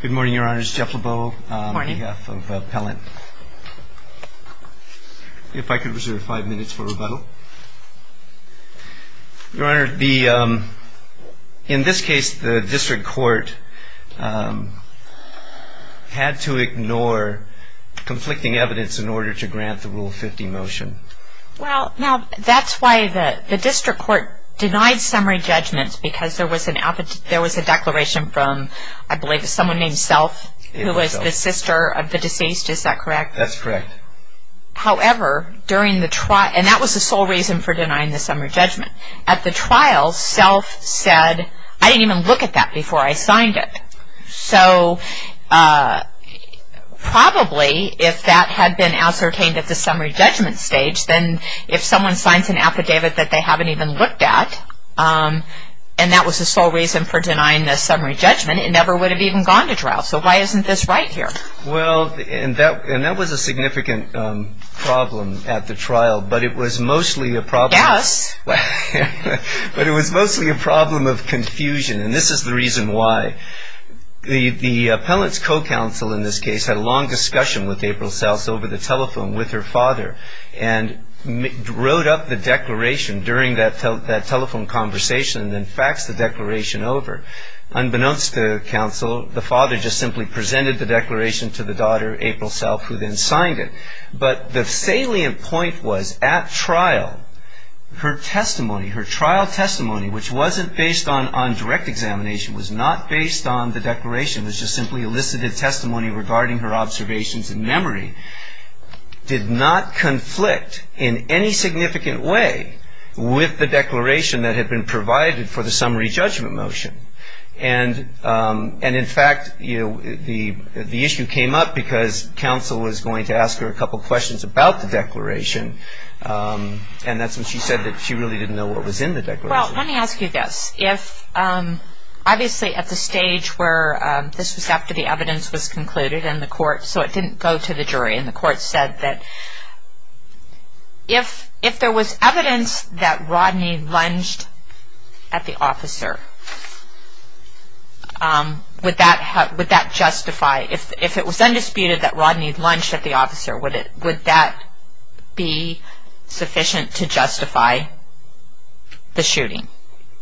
Good morning, Your Honor. This is Jeff LeBeau on behalf of Pellant. If I could reserve five minutes for rebuttal. Your Honor, in this case, the district court had to ignore conflicting evidence in order to grant the Rule 50 motion. Well, now, that's why the district court denied summary judgment because there was a declaration from, I believe it was someone named Self, who was the sister of the deceased, is that correct? That's correct. However, during the trial, and that was the sole reason for denying the summary judgment. At the trial, Self said, I didn't even look at that before I signed it. So, probably, if that had been ascertained at the summary judgment stage, then if someone signs an affidavit that they haven't even looked at, and that was the sole reason for denying the summary judgment, it never would have even gone to trial. So, why isn't this right here? Well, and that was a significant problem at the trial, but it was mostly a problem of confusion. And this is the reason why. The appellant's co-counsel, in this case, had a long discussion with April Self over the telephone with her father and wrote up the declaration during that telephone conversation and then faxed the declaration over. Unbeknownst to counsel, the father just simply presented the declaration to the daughter, April Self, who then signed it. But the salient point was, at trial, her testimony, her trial testimony, which wasn't based on direct examination, was not based on the declaration. It was just simply elicited testimony regarding her observations and memory, did not conflict in any significant way with the declaration that had been provided for the summary judgment motion. And, in fact, the issue came up because counsel was going to ask her a couple questions about the declaration, and that's when she said that she really didn't know what was in the declaration. Well, let me ask you this. If, obviously, at the stage where this was after the evidence was concluded and the court, so it didn't go to the jury and the court said that if there was evidence that Rodney lunged at the officer, would that justify, if it was undisputed that Rodney lunged at the officer, would that be sufficient to justify the shooting?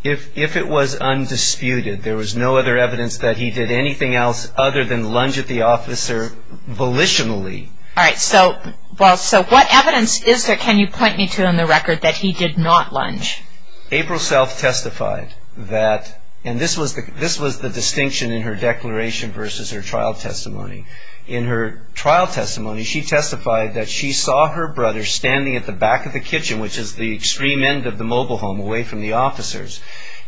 If it was undisputed, there was no other evidence that he did anything else other than lunge at the officer volitionally. All right. So what evidence is there, can you point me to, on the record, that he did not lunge? April Self testified that, and this was the distinction in her declaration versus her trial testimony. In her trial testimony, she testified that she saw her brother standing at the back of the kitchen, which is the extreme end of the mobile home, away from the officers,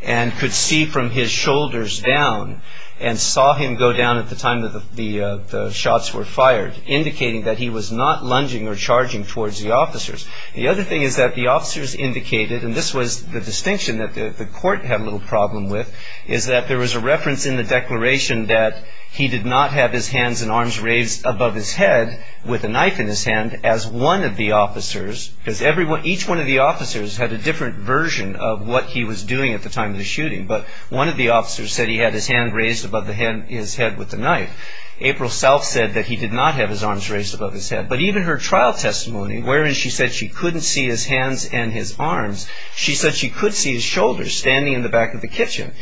and could see from his shoulders down and saw him go down at the time that the shots were fired, indicating that he was not lunging or charging towards the officers. The other thing is that the officers indicated, and this was the distinction that the court had a little problem with, is that there was a reference in the declaration that he did not have his hands and arms raised above his head with a knife in his hand as one of the officers, because each one of the officers had a different version of what he was doing at the time of the shooting, but one of the officers said he had his hand raised above his head with the knife. April Self said that he did not have his arms raised above his head. But even her trial testimony, wherein she said she couldn't see his hands and his arms, she said she could see his shoulders standing in the back of the kitchen.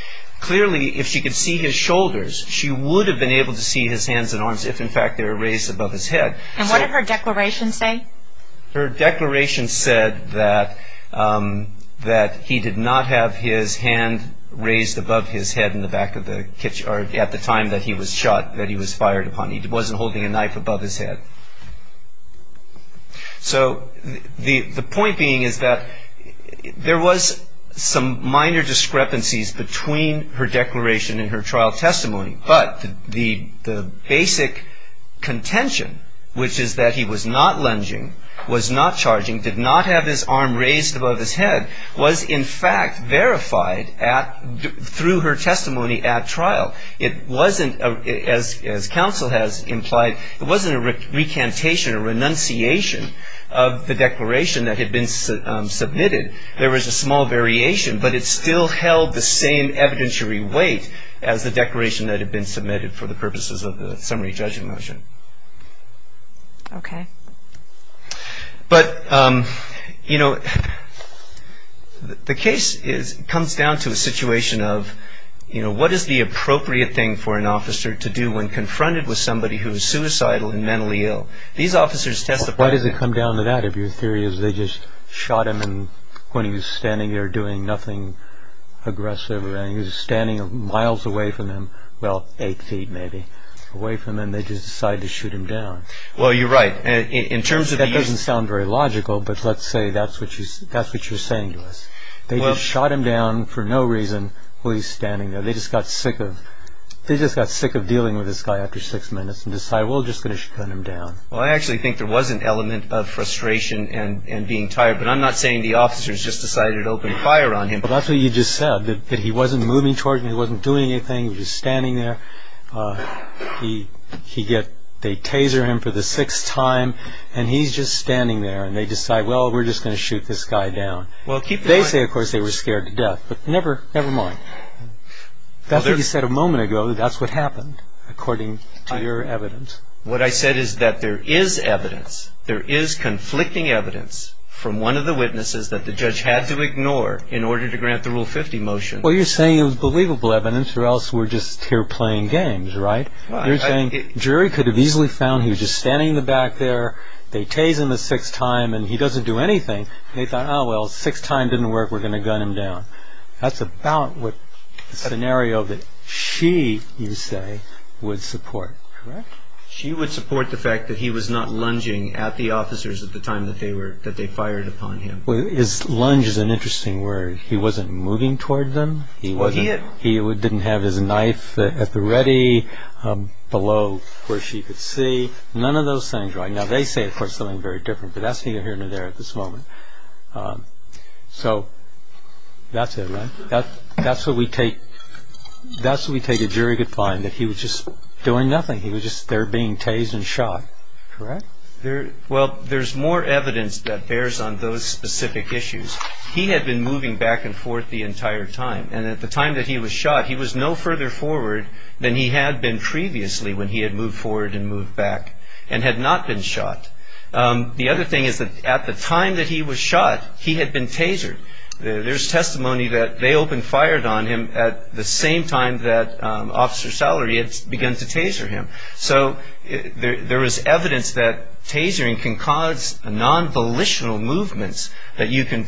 Clearly, if she could see his shoulders, she would have been able to see his hands and arms, if in fact they were raised above his head. And what did her declaration say? Her declaration said that he did not have his hand raised above his head in the back of the kitchen at the time that he was shot, that he was fired upon. He wasn't holding a knife above his head. So the point being is that there was some minor discrepancies between her declaration and her trial testimony, but the basic contention, which is that he was not lunging, was not charging, did not have his arm raised above his head, was in fact verified through her testimony at trial. It wasn't, as counsel has implied, it wasn't a recantation, a renunciation of the declaration that had been submitted. There was a small variation, but it still held the same evidentiary weight as the declaration that had been submitted for the purposes of the summary judgment motion. Okay. But, you know, the case comes down to a situation of, you know, what is the appropriate thing for an officer to do when confronted with somebody who is suicidal and mentally ill? These officers testified. Why does it come down to that, if your theory is they just shot him when he was standing there doing nothing aggressive, and he was standing miles away from them, well, eight feet maybe, away from them, and they just decided to shoot him down? Well, you're right. That doesn't sound very logical, but let's say that's what you're saying to us. They just shot him down for no reason while he was standing there. They just got sick of dealing with this guy after six minutes and decided, well, we'll just finish cutting him down. Well, I actually think there was an element of frustration and being tired, but I'm not saying the officers just decided to open fire on him. Well, that's what you just said, that he wasn't moving towards them, he wasn't doing anything, he was standing there. They taser him for the sixth time, and he's just standing there, and they decide, well, we're just going to shoot this guy down. They say, of course, they were scared to death, but never mind. That's what you said a moment ago. That's what happened, according to your evidence. What I said is that there is evidence, there is conflicting evidence, from one of the witnesses that the judge had to ignore in order to grant the Rule 50 motion. Well, you're saying it was believable evidence, or else we're just here playing games, right? You're saying the jury could have easily found he was just standing in the back there, they tase him a sixth time, and he doesn't do anything. They thought, oh, well, the sixth time didn't work, we're going to gun him down. That's about what the scenario that she, you say, would support, correct? She would support the fact that he was not lunging at the officers at the time that they fired upon him. Lunge is an interesting word. He wasn't moving toward them. He didn't have his knife at the ready, below where she could see. None of those things, right? Now, they say, of course, something very different, but that's neither here nor there at this moment. So that's it, right? That's what we take a jury could find, that he was just doing nothing. He was just there being tased and shot, correct? Well, there's more evidence that bears on those specific issues. He had been moving back and forth the entire time. And at the time that he was shot, he was no further forward than he had been previously when he had moved forward and moved back and had not been shot. The other thing is that at the time that he was shot, he had been tasered. There's testimony that they opened fire on him at the same time that Officer Sallery had begun to taser him. So there is evidence that tasering can cause non-volitional movements, that you can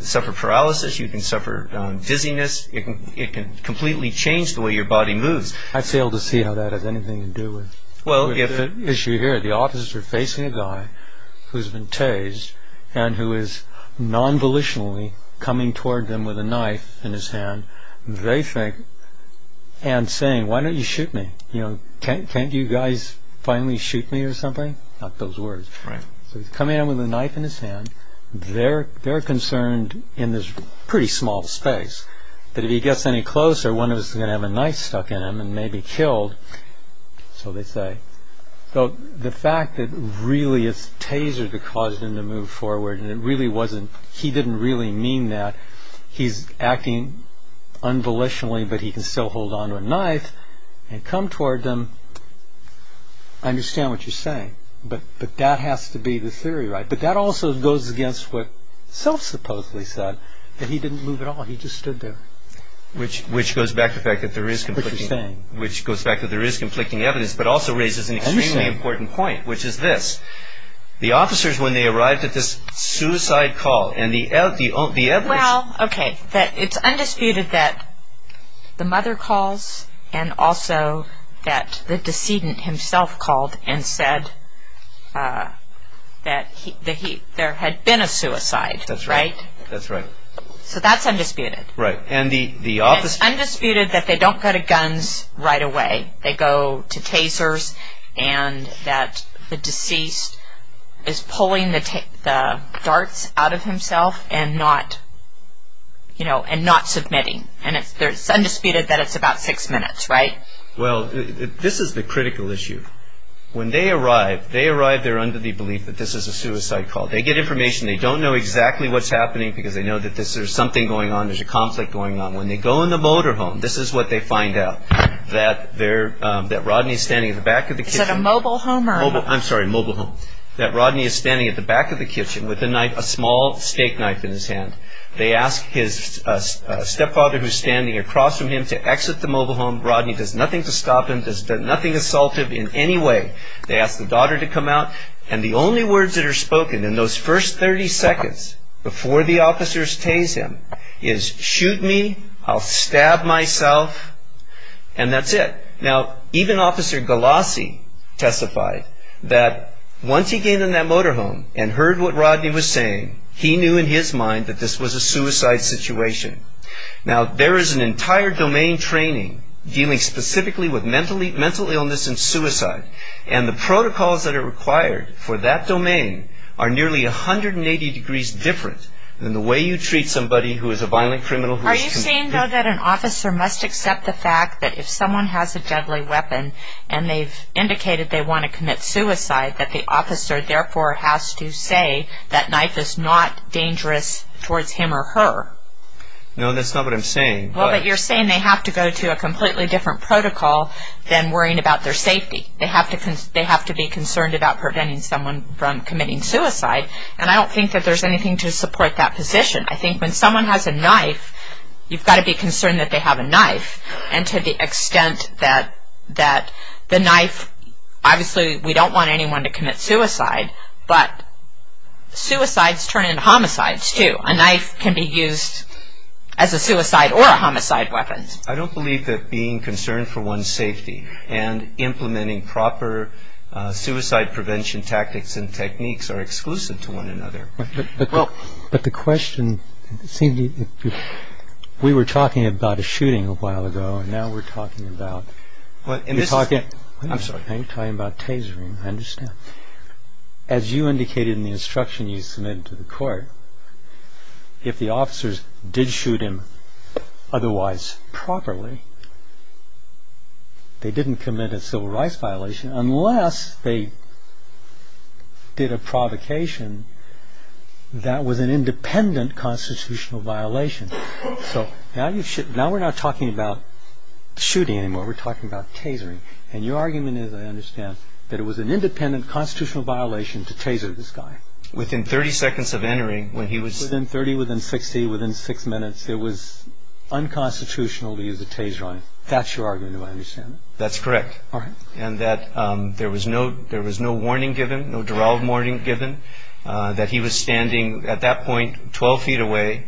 suffer paralysis, you can suffer dizziness. It can completely change the way your body moves. I fail to see how that has anything to do with the issue here. Where the Autists are facing a guy who's been tased and who is non-volitionally coming toward them with a knife in his hand, they think and saying, why don't you shoot me? Can't you guys finally shoot me or something? Not those words. So he's coming at them with a knife in his hand. They're concerned in this pretty small space that if he gets any closer, one of us is going to have a knife stuck in him and may be killed. So they say. The fact that really it's tasered that caused him to move forward, and he didn't really mean that. He's acting unvolitionally, but he can still hold on to a knife and come toward them. I understand what you're saying, but that has to be the theory, right? But that also goes against what Self supposedly said, that he didn't move at all. He just stood there. Which goes back to the fact that there is conflicting evidence, but also raises an extremely important point, which is this. The officers, when they arrived at this suicide call and the evidence. Well, okay, it's undisputed that the mother calls and also that the decedent himself called and said that there had been a suicide, right? That's right. So that's undisputed. It's undisputed that they don't go to guns right away. They go to tasers and that the deceased is pulling the darts out of himself and not submitting. It's undisputed that it's about six minutes, right? Well, this is the critical issue. When they arrive, they arrive there under the belief that this is a suicide call. They get information. They don't know exactly what's happening because they know that there's something going on. There's a conflict going on. When they go in the motorhome, this is what they find out. That Rodney is standing at the back of the kitchen. Is it a mobile home? I'm sorry, mobile home. That Rodney is standing at the back of the kitchen with a knife, a small steak knife in his hand. They ask his stepfather who's standing across from him to exit the mobile home. Rodney does nothing to stop him. Does nothing assaultive in any way. They ask the daughter to come out. And the only words that are spoken in those first 30 seconds before the officers tase him is, shoot me, I'll stab myself, and that's it. Now, even Officer Galassi testified that once he came in that motorhome and heard what Rodney was saying, he knew in his mind that this was a suicide situation. Now, there is an entire domain training dealing specifically with mental illness and suicide, and the protocols that are required for that domain are nearly 180 degrees different than the way you treat somebody who is a violent criminal. Are you saying, though, that an officer must accept the fact that if someone has a deadly weapon and they've indicated they want to commit suicide, that the officer therefore has to say that knife is not dangerous towards him or her? No, that's not what I'm saying. Well, but you're saying they have to go to a completely different protocol than worrying about their safety. They have to be concerned about preventing someone from committing suicide, and I don't think that there's anything to support that position. I think when someone has a knife, you've got to be concerned that they have a knife, and to the extent that the knife, obviously we don't want anyone to commit suicide, but suicides turn into homicides, too. A knife can be used as a suicide or a homicide weapon. I don't believe that being concerned for one's safety and implementing proper suicide prevention tactics and techniques are exclusive to one another. But the question seemed to be, we were talking about a shooting a while ago, and now we're talking about tasering, I understand. As you indicated in the instruction you submitted to the court, if the officers did shoot him otherwise properly, they didn't commit a civil rights violation unless they did a provocation that was an independent constitutional violation. So now we're not talking about shooting anymore, we're talking about tasering. And your argument is, I understand, that it was an independent constitutional violation to taser this guy. Within 30 seconds of entering, when he was... Within 30, within 60, within six minutes, it was unconstitutional to use a taser on him. That's your argument, if I understand it. That's correct. All right. And that there was no warning given, no derailed warning given, that he was standing at that point 12 feet away,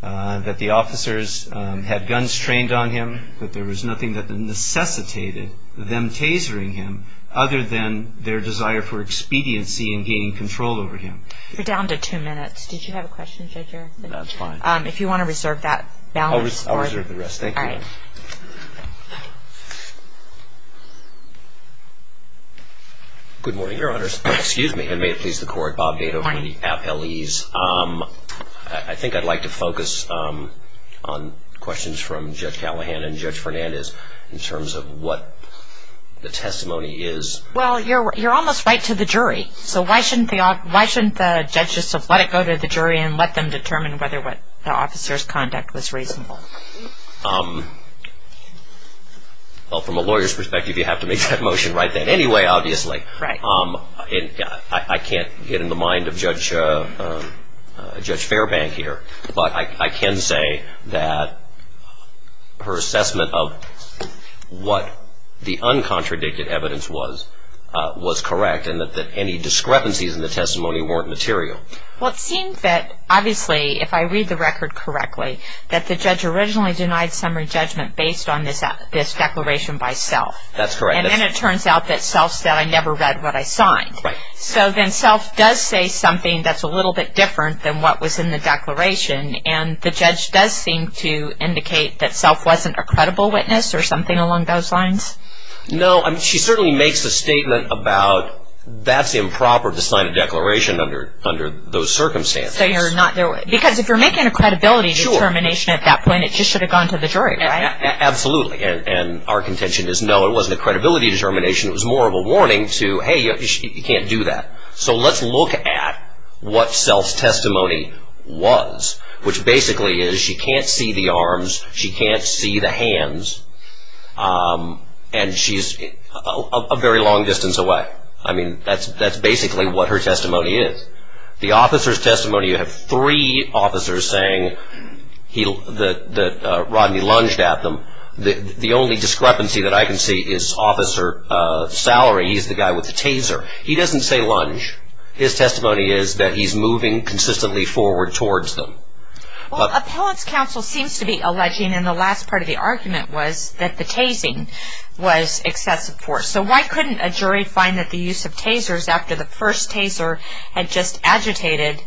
that the officers had guns trained on him, that there was nothing that necessitated them tasering him other than their desire for expediency in gaining control over him. You're down to two minutes. Did you have a question, Judge Erickson? No, it's fine. If you want to reserve that balance for... I'll reserve the rest. Thank you. All right. Good morning, Your Honors. And may it please the Court, Bob Dado from the Appellees. Good morning. I think I'd like to focus on questions from Judge Callahan and Judge Fernandez in terms of what the testimony is. Well, you're almost right to the jury, so why shouldn't the judge just let it go to the jury and let them determine whether what the officer's conduct was reasonable? Well, from a lawyer's perspective, you have to make that motion right then anyway, obviously. Right. I can't get in the mind of Judge Fairbank here, but I can say that her assessment of what the uncontradicted evidence was was correct and that any discrepancies in the testimony weren't material. Well, it seems that, obviously, if I read the record correctly, that the judge originally denied summary judgment based on this declaration by self. That's correct. And then it turns out that self said I never read what I signed. Right. So then self does say something that's a little bit different than what was in the declaration, and the judge does seem to indicate that self wasn't a credible witness or something along those lines? No. She certainly makes a statement about that's improper to sign a declaration under those circumstances. Because if you're making a credibility determination at that point, it just should have gone to the jury, right? Absolutely. And our contention is, no, it wasn't a credibility determination. It was more of a warning to, hey, you can't do that. So let's look at what self's testimony was, which basically is she can't see the arms, she can't see the hands, and she's a very long distance away. I mean, that's basically what her testimony is. The officer's testimony, you have three officers saying that Rodney lunged at them. The only discrepancy that I can see is Officer Salary. He's the guy with the taser. He doesn't say lunge. His testimony is that he's moving consistently forward towards them. Well, appellant's counsel seems to be alleging, and the last part of the argument was, that the tasing was excessive force. So why couldn't a jury find that the use of tasers after the first taser had just agitated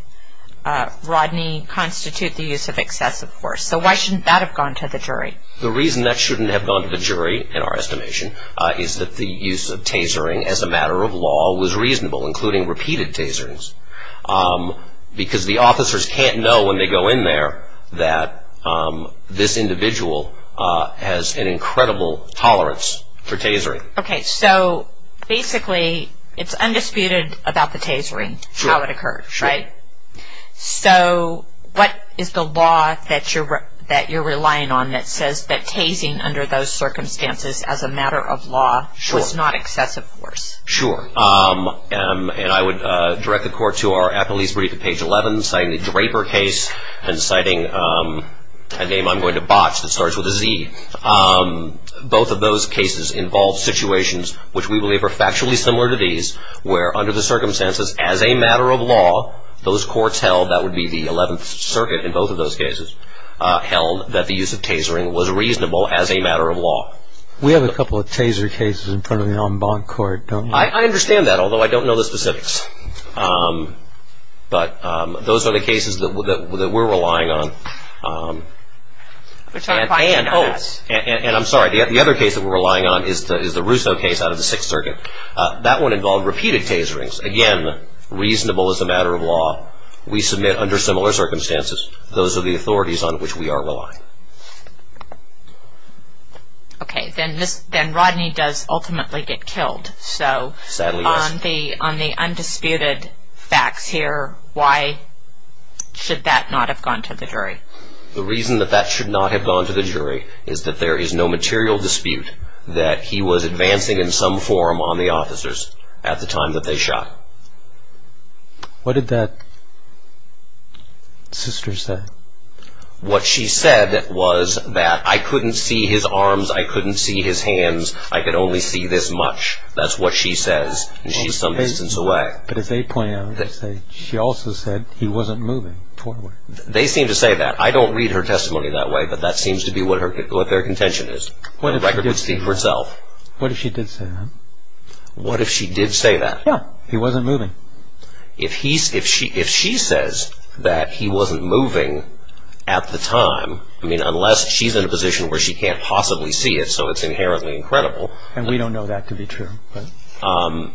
Rodney, constitute the use of excessive force? So why shouldn't that have gone to the jury? The reason that shouldn't have gone to the jury, in our estimation, is that the use of tasering as a matter of law was reasonable, including repeated taserings, because the officers can't know when they go in there that this individual has an incredible tolerance for tasering. Okay, so basically it's undisputed about the tasering, how it occurred, right? Sure. So what is the law that you're relying on that says that tasing under those circumstances as a matter of law was not excessive force? Sure. And I would direct the court to our appellee's brief at page 11, citing the Draper case, and citing a name I'm going to botch that starts with a Z. Both of those cases involve situations which we believe are factually similar to these, where under the circumstances as a matter of law, those courts held, that would be the 11th Circuit in both of those cases, held that the use of tasering was reasonable as a matter of law. We have a couple of taser cases in front of me on bond court, don't we? I understand that, although I don't know the specifics. But those are the cases that we're relying on. And I'm sorry, the other case that we're relying on is the Russo case out of the 6th Circuit. That one involved repeated taserings. Again, reasonable as a matter of law. We submit under similar circumstances. Those are the authorities on which we are relying. Okay, then Rodney does ultimately get killed. Sadly, yes. On the undisputed facts here, why should that not have gone to the jury? The reason that that should not have gone to the jury is that there is no material dispute that he was advancing in some form on the officers at the time that they shot. What did that sister say? What she said was that I couldn't see his arms, I couldn't see his hands, I could only see this much. That's what she says, and she's some distance away. But as they point out, she also said he wasn't moving forward. They seem to say that. I don't read her testimony that way, but that seems to be what their contention is. The record would speak for itself. What if she did say that? What if she did say that? Yeah, he wasn't moving. If she says that he wasn't moving at the time, unless she's in a position where she can't possibly see it, so it's inherently incredible. And we don't know that to be true. I'm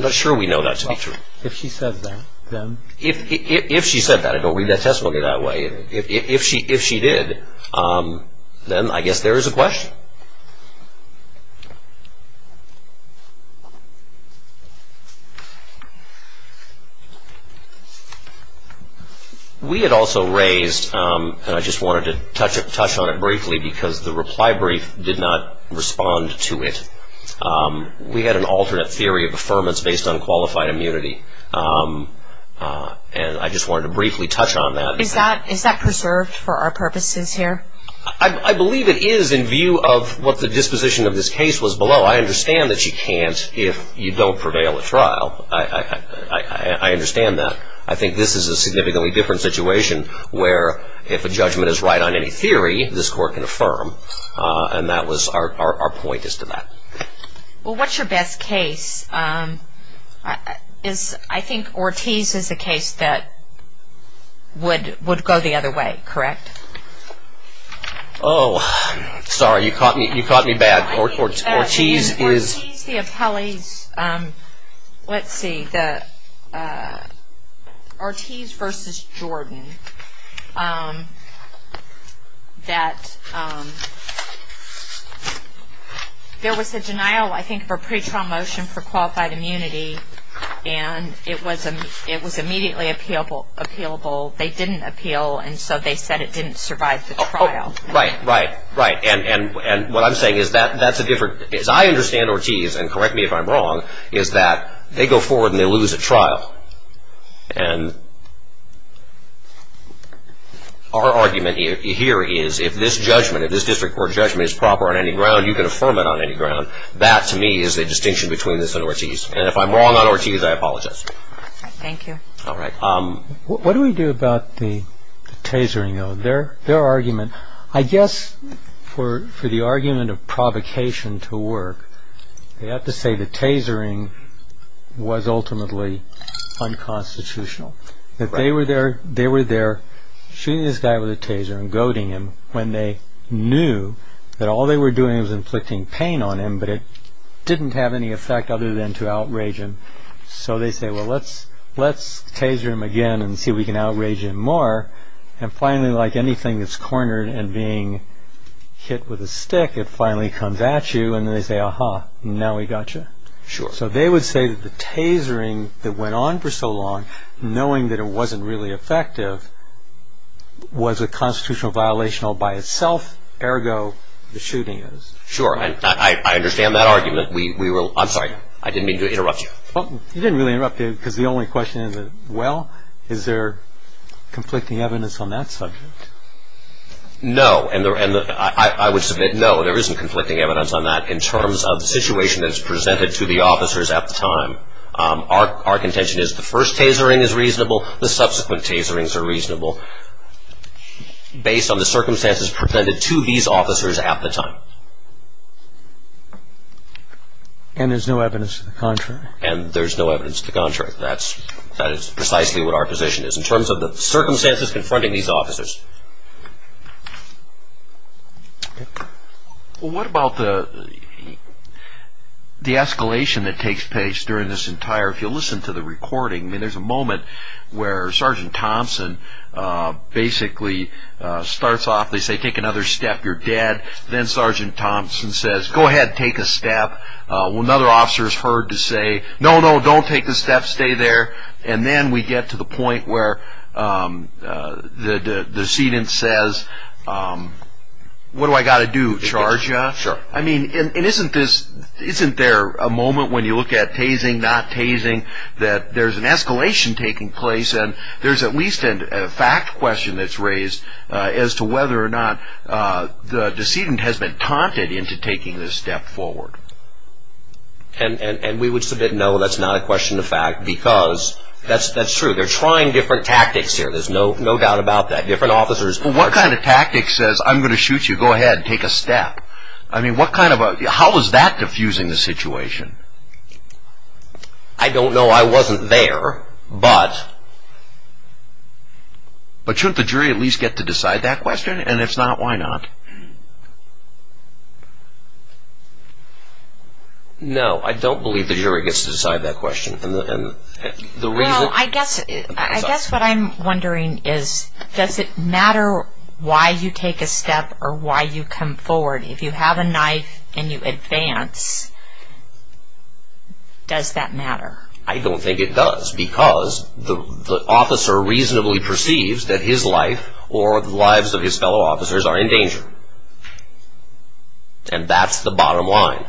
not sure we know that to be true. If she says that, then. If she said that, I don't read that testimony that way. If she did, then I guess there is a question. We had also raised, and I just wanted to touch on it briefly, because the reply brief did not respond to it. We had an alternate theory of affirmance based on qualified immunity, and I just wanted to briefly touch on that. Is that preserved for our purposes here? I believe it is in view of what the disposition of this case was below. I understand that she can't if you don't prevail at trial. I understand that. I think this is a significantly different situation where if a judgment is right on any theory, this court can affirm, and that was our point as to that. Well, what's your best case? I think Ortiz is a case that would go the other way. Correct? Oh, sorry. You caught me bad. Ortiz, the appellees. Let's see. The Ortiz v. Jordan, that there was a denial, I think, of a pretrial motion for qualified immunity, and it was immediately appealable. They didn't appeal, and so they said it didn't survive the trial. Right, right, right. And what I'm saying is that's a different – as I understand Ortiz, and correct me if I'm wrong, is that they go forward and they lose at trial. And our argument here is if this judgment, if this district court judgment is proper on any ground, you can affirm it on any ground. That, to me, is the distinction between this and Ortiz. And if I'm wrong on Ortiz, I apologize. Thank you. All right. What do we do about the tasering, though, their argument? I guess for the argument of provocation to work, they have to say the tasering was ultimately unconstitutional. That they were there shooting this guy with a taser and goading him when they knew that all they were doing was inflicting pain on him, but it didn't have any effect other than to outrage him. So they say, well, let's taser him again and see if we can outrage him more. And finally, like anything that's cornered and being hit with a stick, it finally comes at you and they say, aha, now we got you. Sure. So they would say that the tasering that went on for so long, knowing that it wasn't really effective, was a constitutional violation all by itself, ergo the shooting is. I understand that argument. We will – I'm sorry. I didn't mean to interrupt you. You didn't really interrupt me because the only question is, well, is there conflicting evidence on that subject? No. And I would submit, no, there isn't conflicting evidence on that in terms of the situation that's presented to the officers at the time. Our contention is the first tasering is reasonable. The subsequent taserings are reasonable based on the circumstances presented to these officers at the time. And there's no evidence to the contrary. And there's no evidence to the contrary. That is precisely what our position is in terms of the circumstances confronting these officers. Well, what about the escalation that takes place during this entire – if you listen to the recording, there's a moment where Sergeant Thompson basically starts off. They say, take another step, you're dead. Then Sergeant Thompson says, go ahead, take a step. Another officer is heard to say, no, no, don't take the step, stay there. And then we get to the point where the decedent says, what do I got to do, charge you? Sure. I mean, isn't there a moment when you look at tasering, not tasering, that there's an escalation taking place and there's at least a fact question that's raised as to whether or not the decedent has been taunted into taking this step forward. And we would submit, no, that's not a question of fact, because that's true. They're trying different tactics here. There's no doubt about that. Different officers – Well, what kind of tactic says, I'm going to shoot you, go ahead, take a step? I mean, what kind of a – how is that diffusing the situation? I don't know. I wasn't there. Sure. But shouldn't the jury at least get to decide that question? And if not, why not? No, I don't believe the jury gets to decide that question. Well, I guess what I'm wondering is, does it matter why you take a step or why you come forward? If you have a knife and you advance, does that matter? I don't think it does, because the officer reasonably perceives that his life or the lives of his fellow officers are in danger. And that's the bottom line.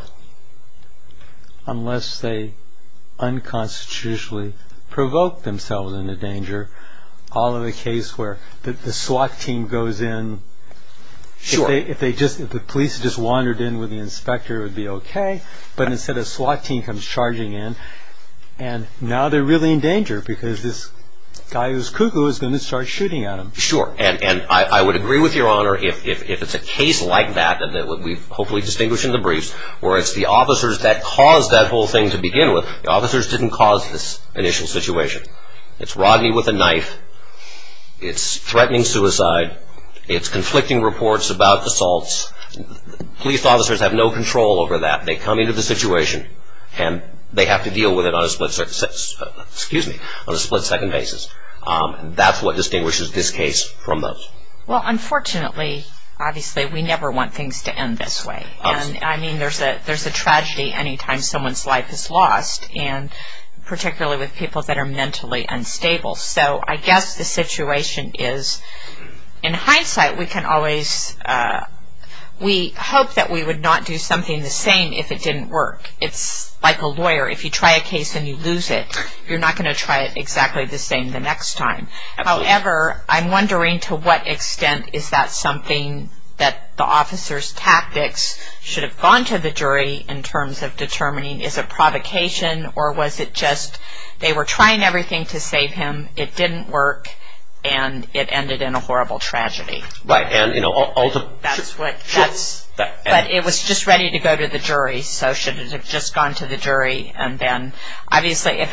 Unless they unconstitutionally provoke themselves into danger, all of the case where the SWAT team goes in – Sure. If the police just wandered in with the inspector, it would be okay. But instead, a SWAT team comes charging in, and now they're really in danger because this guy who's cuckoo is going to start shooting at them. Sure. And I would agree with Your Honor if it's a case like that, and that we've hopefully distinguished in the briefs, where it's the officers that caused that whole thing to begin with. The officers didn't cause this initial situation. It's Rodney with a knife. It's threatening suicide. It's conflicting reports about assaults. Police officers have no control over that. They come into the situation, and they have to deal with it on a split-second basis. That's what distinguishes this case from those. Well, unfortunately, obviously, we never want things to end this way. I mean, there's a tragedy any time someone's life is lost, and particularly with people that are mentally unstable. So I guess the situation is, in hindsight, we can always – we hope that we would not do something the same if it didn't work. It's like a lawyer. If you try a case and you lose it, you're not going to try it exactly the same the next time. However, I'm wondering to what extent is that something that the officers' tactics should have gone to the jury in terms of determining is it provocation or was it just they were trying everything to save him, it didn't work, and it ended in a horrible tragedy. Right. That's what – but it was just ready to go to the jury, so should it have just gone to the jury and then – obviously,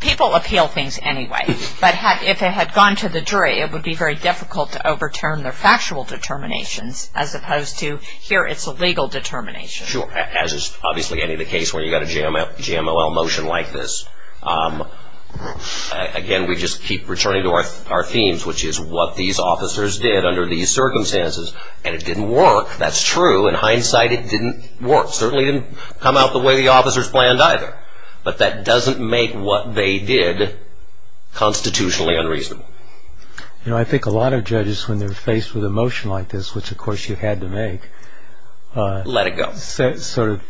people appeal things anyway. But if it had gone to the jury, it would be very difficult to overturn their factual determinations as opposed to here it's a legal determination. Sure. As is obviously any other case where you've got a GMOL motion like this. Again, we just keep returning to our themes, which is what these officers did under these circumstances, and it didn't work. That's true. In hindsight, it didn't work. It certainly didn't come out the way the officers planned either. But that doesn't make what they did constitutionally unreasonable. You know, I think a lot of judges, when they're faced with a motion like this, which, of course, you had to make – Let it go. Sort of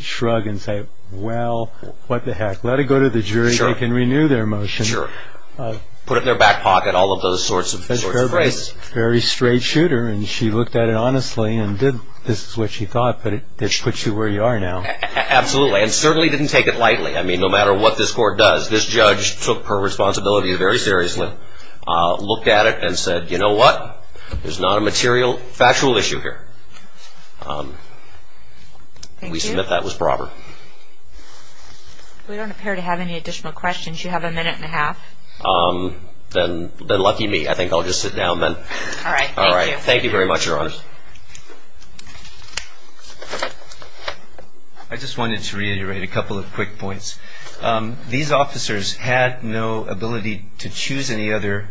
shrug and say, well, what the heck. Let it go to the jury. Sure. They can renew their motion. Sure. Put it in their back pocket, all of those sorts of things. Very straight shooter, and she looked at it honestly and did – this is what she thought, but it puts you where you are now. Absolutely, and certainly didn't take it lightly. I mean, no matter what this court does, this judge took her responsibility very seriously, looked at it and said, you know what? There's not a material factual issue here. We submit that was brawler. We don't appear to have any additional questions. You have a minute and a half. Then lucky me. I think I'll just sit down then. All right. Thank you. Thank you very much, Your Honor. I just wanted to reiterate a couple of quick points. These officers had no ability to choose any other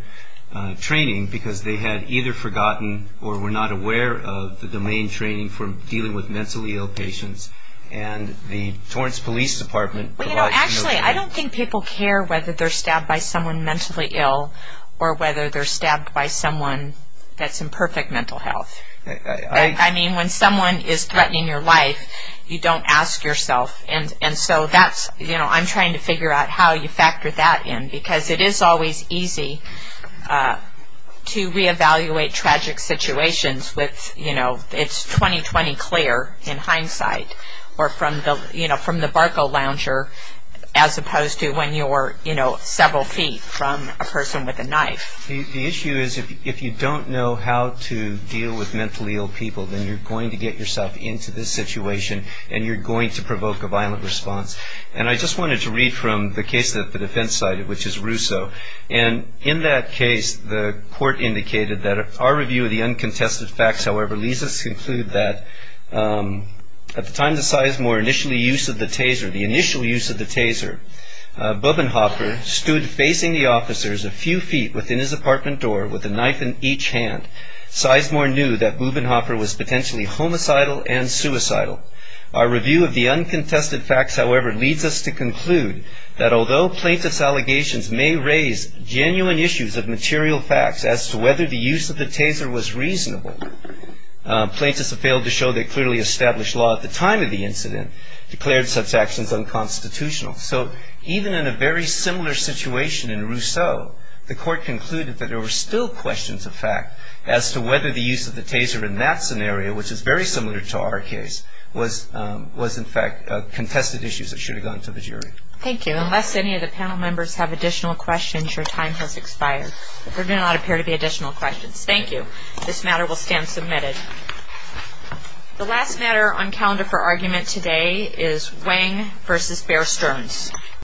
training because they had either forgotten or were not aware of the domain training for dealing with mentally ill patients, and the Torrance Police Department provides no training. Actually, I don't think people care whether they're stabbed by someone mentally ill or whether they're stabbed by someone that's in perfect mental health. I mean, when someone is threatening your life, you don't ask yourself, and so I'm trying to figure out how you factor that in because it is always easy to reevaluate tragic situations with, you know, it's 20-20 clear in hindsight or from the barco lounger as opposed to when you're, you know, several feet from a person with a knife. The issue is if you don't know how to deal with mentally ill people, then you're going to get yourself into this situation and you're going to provoke a violent response. And I just wanted to read from the case that the defense cited, which is Russo, and in that case the court indicated that our review of the uncontested facts, however, leads us to conclude that at the time that Sizemore initially used the Taser, the initial use of the Taser, Bubbenhopper stood facing the officers a few feet within his apartment door with a knife in each hand. Sizemore knew that Bubbenhopper was potentially homicidal and suicidal. Our review of the uncontested facts, however, leads us to conclude that although plaintiffs' allegations may raise genuine issues of material facts as to whether the use of the Taser was reasonable, plaintiffs have failed to show they clearly established law at the time of the incident, declared such actions unconstitutional. So even in a very similar situation in Russo, the court concluded that there were still questions of fact as to whether the use of the Taser in that scenario, which is very similar to our case, was in fact contested issues that should have gone to the jury. Thank you. Unless any of the panel members have additional questions, your time has expired. There do not appear to be additional questions. Thank you. This matter will stand submitted. The last matter on calendar for argument today is Wang v. Bear Stearns.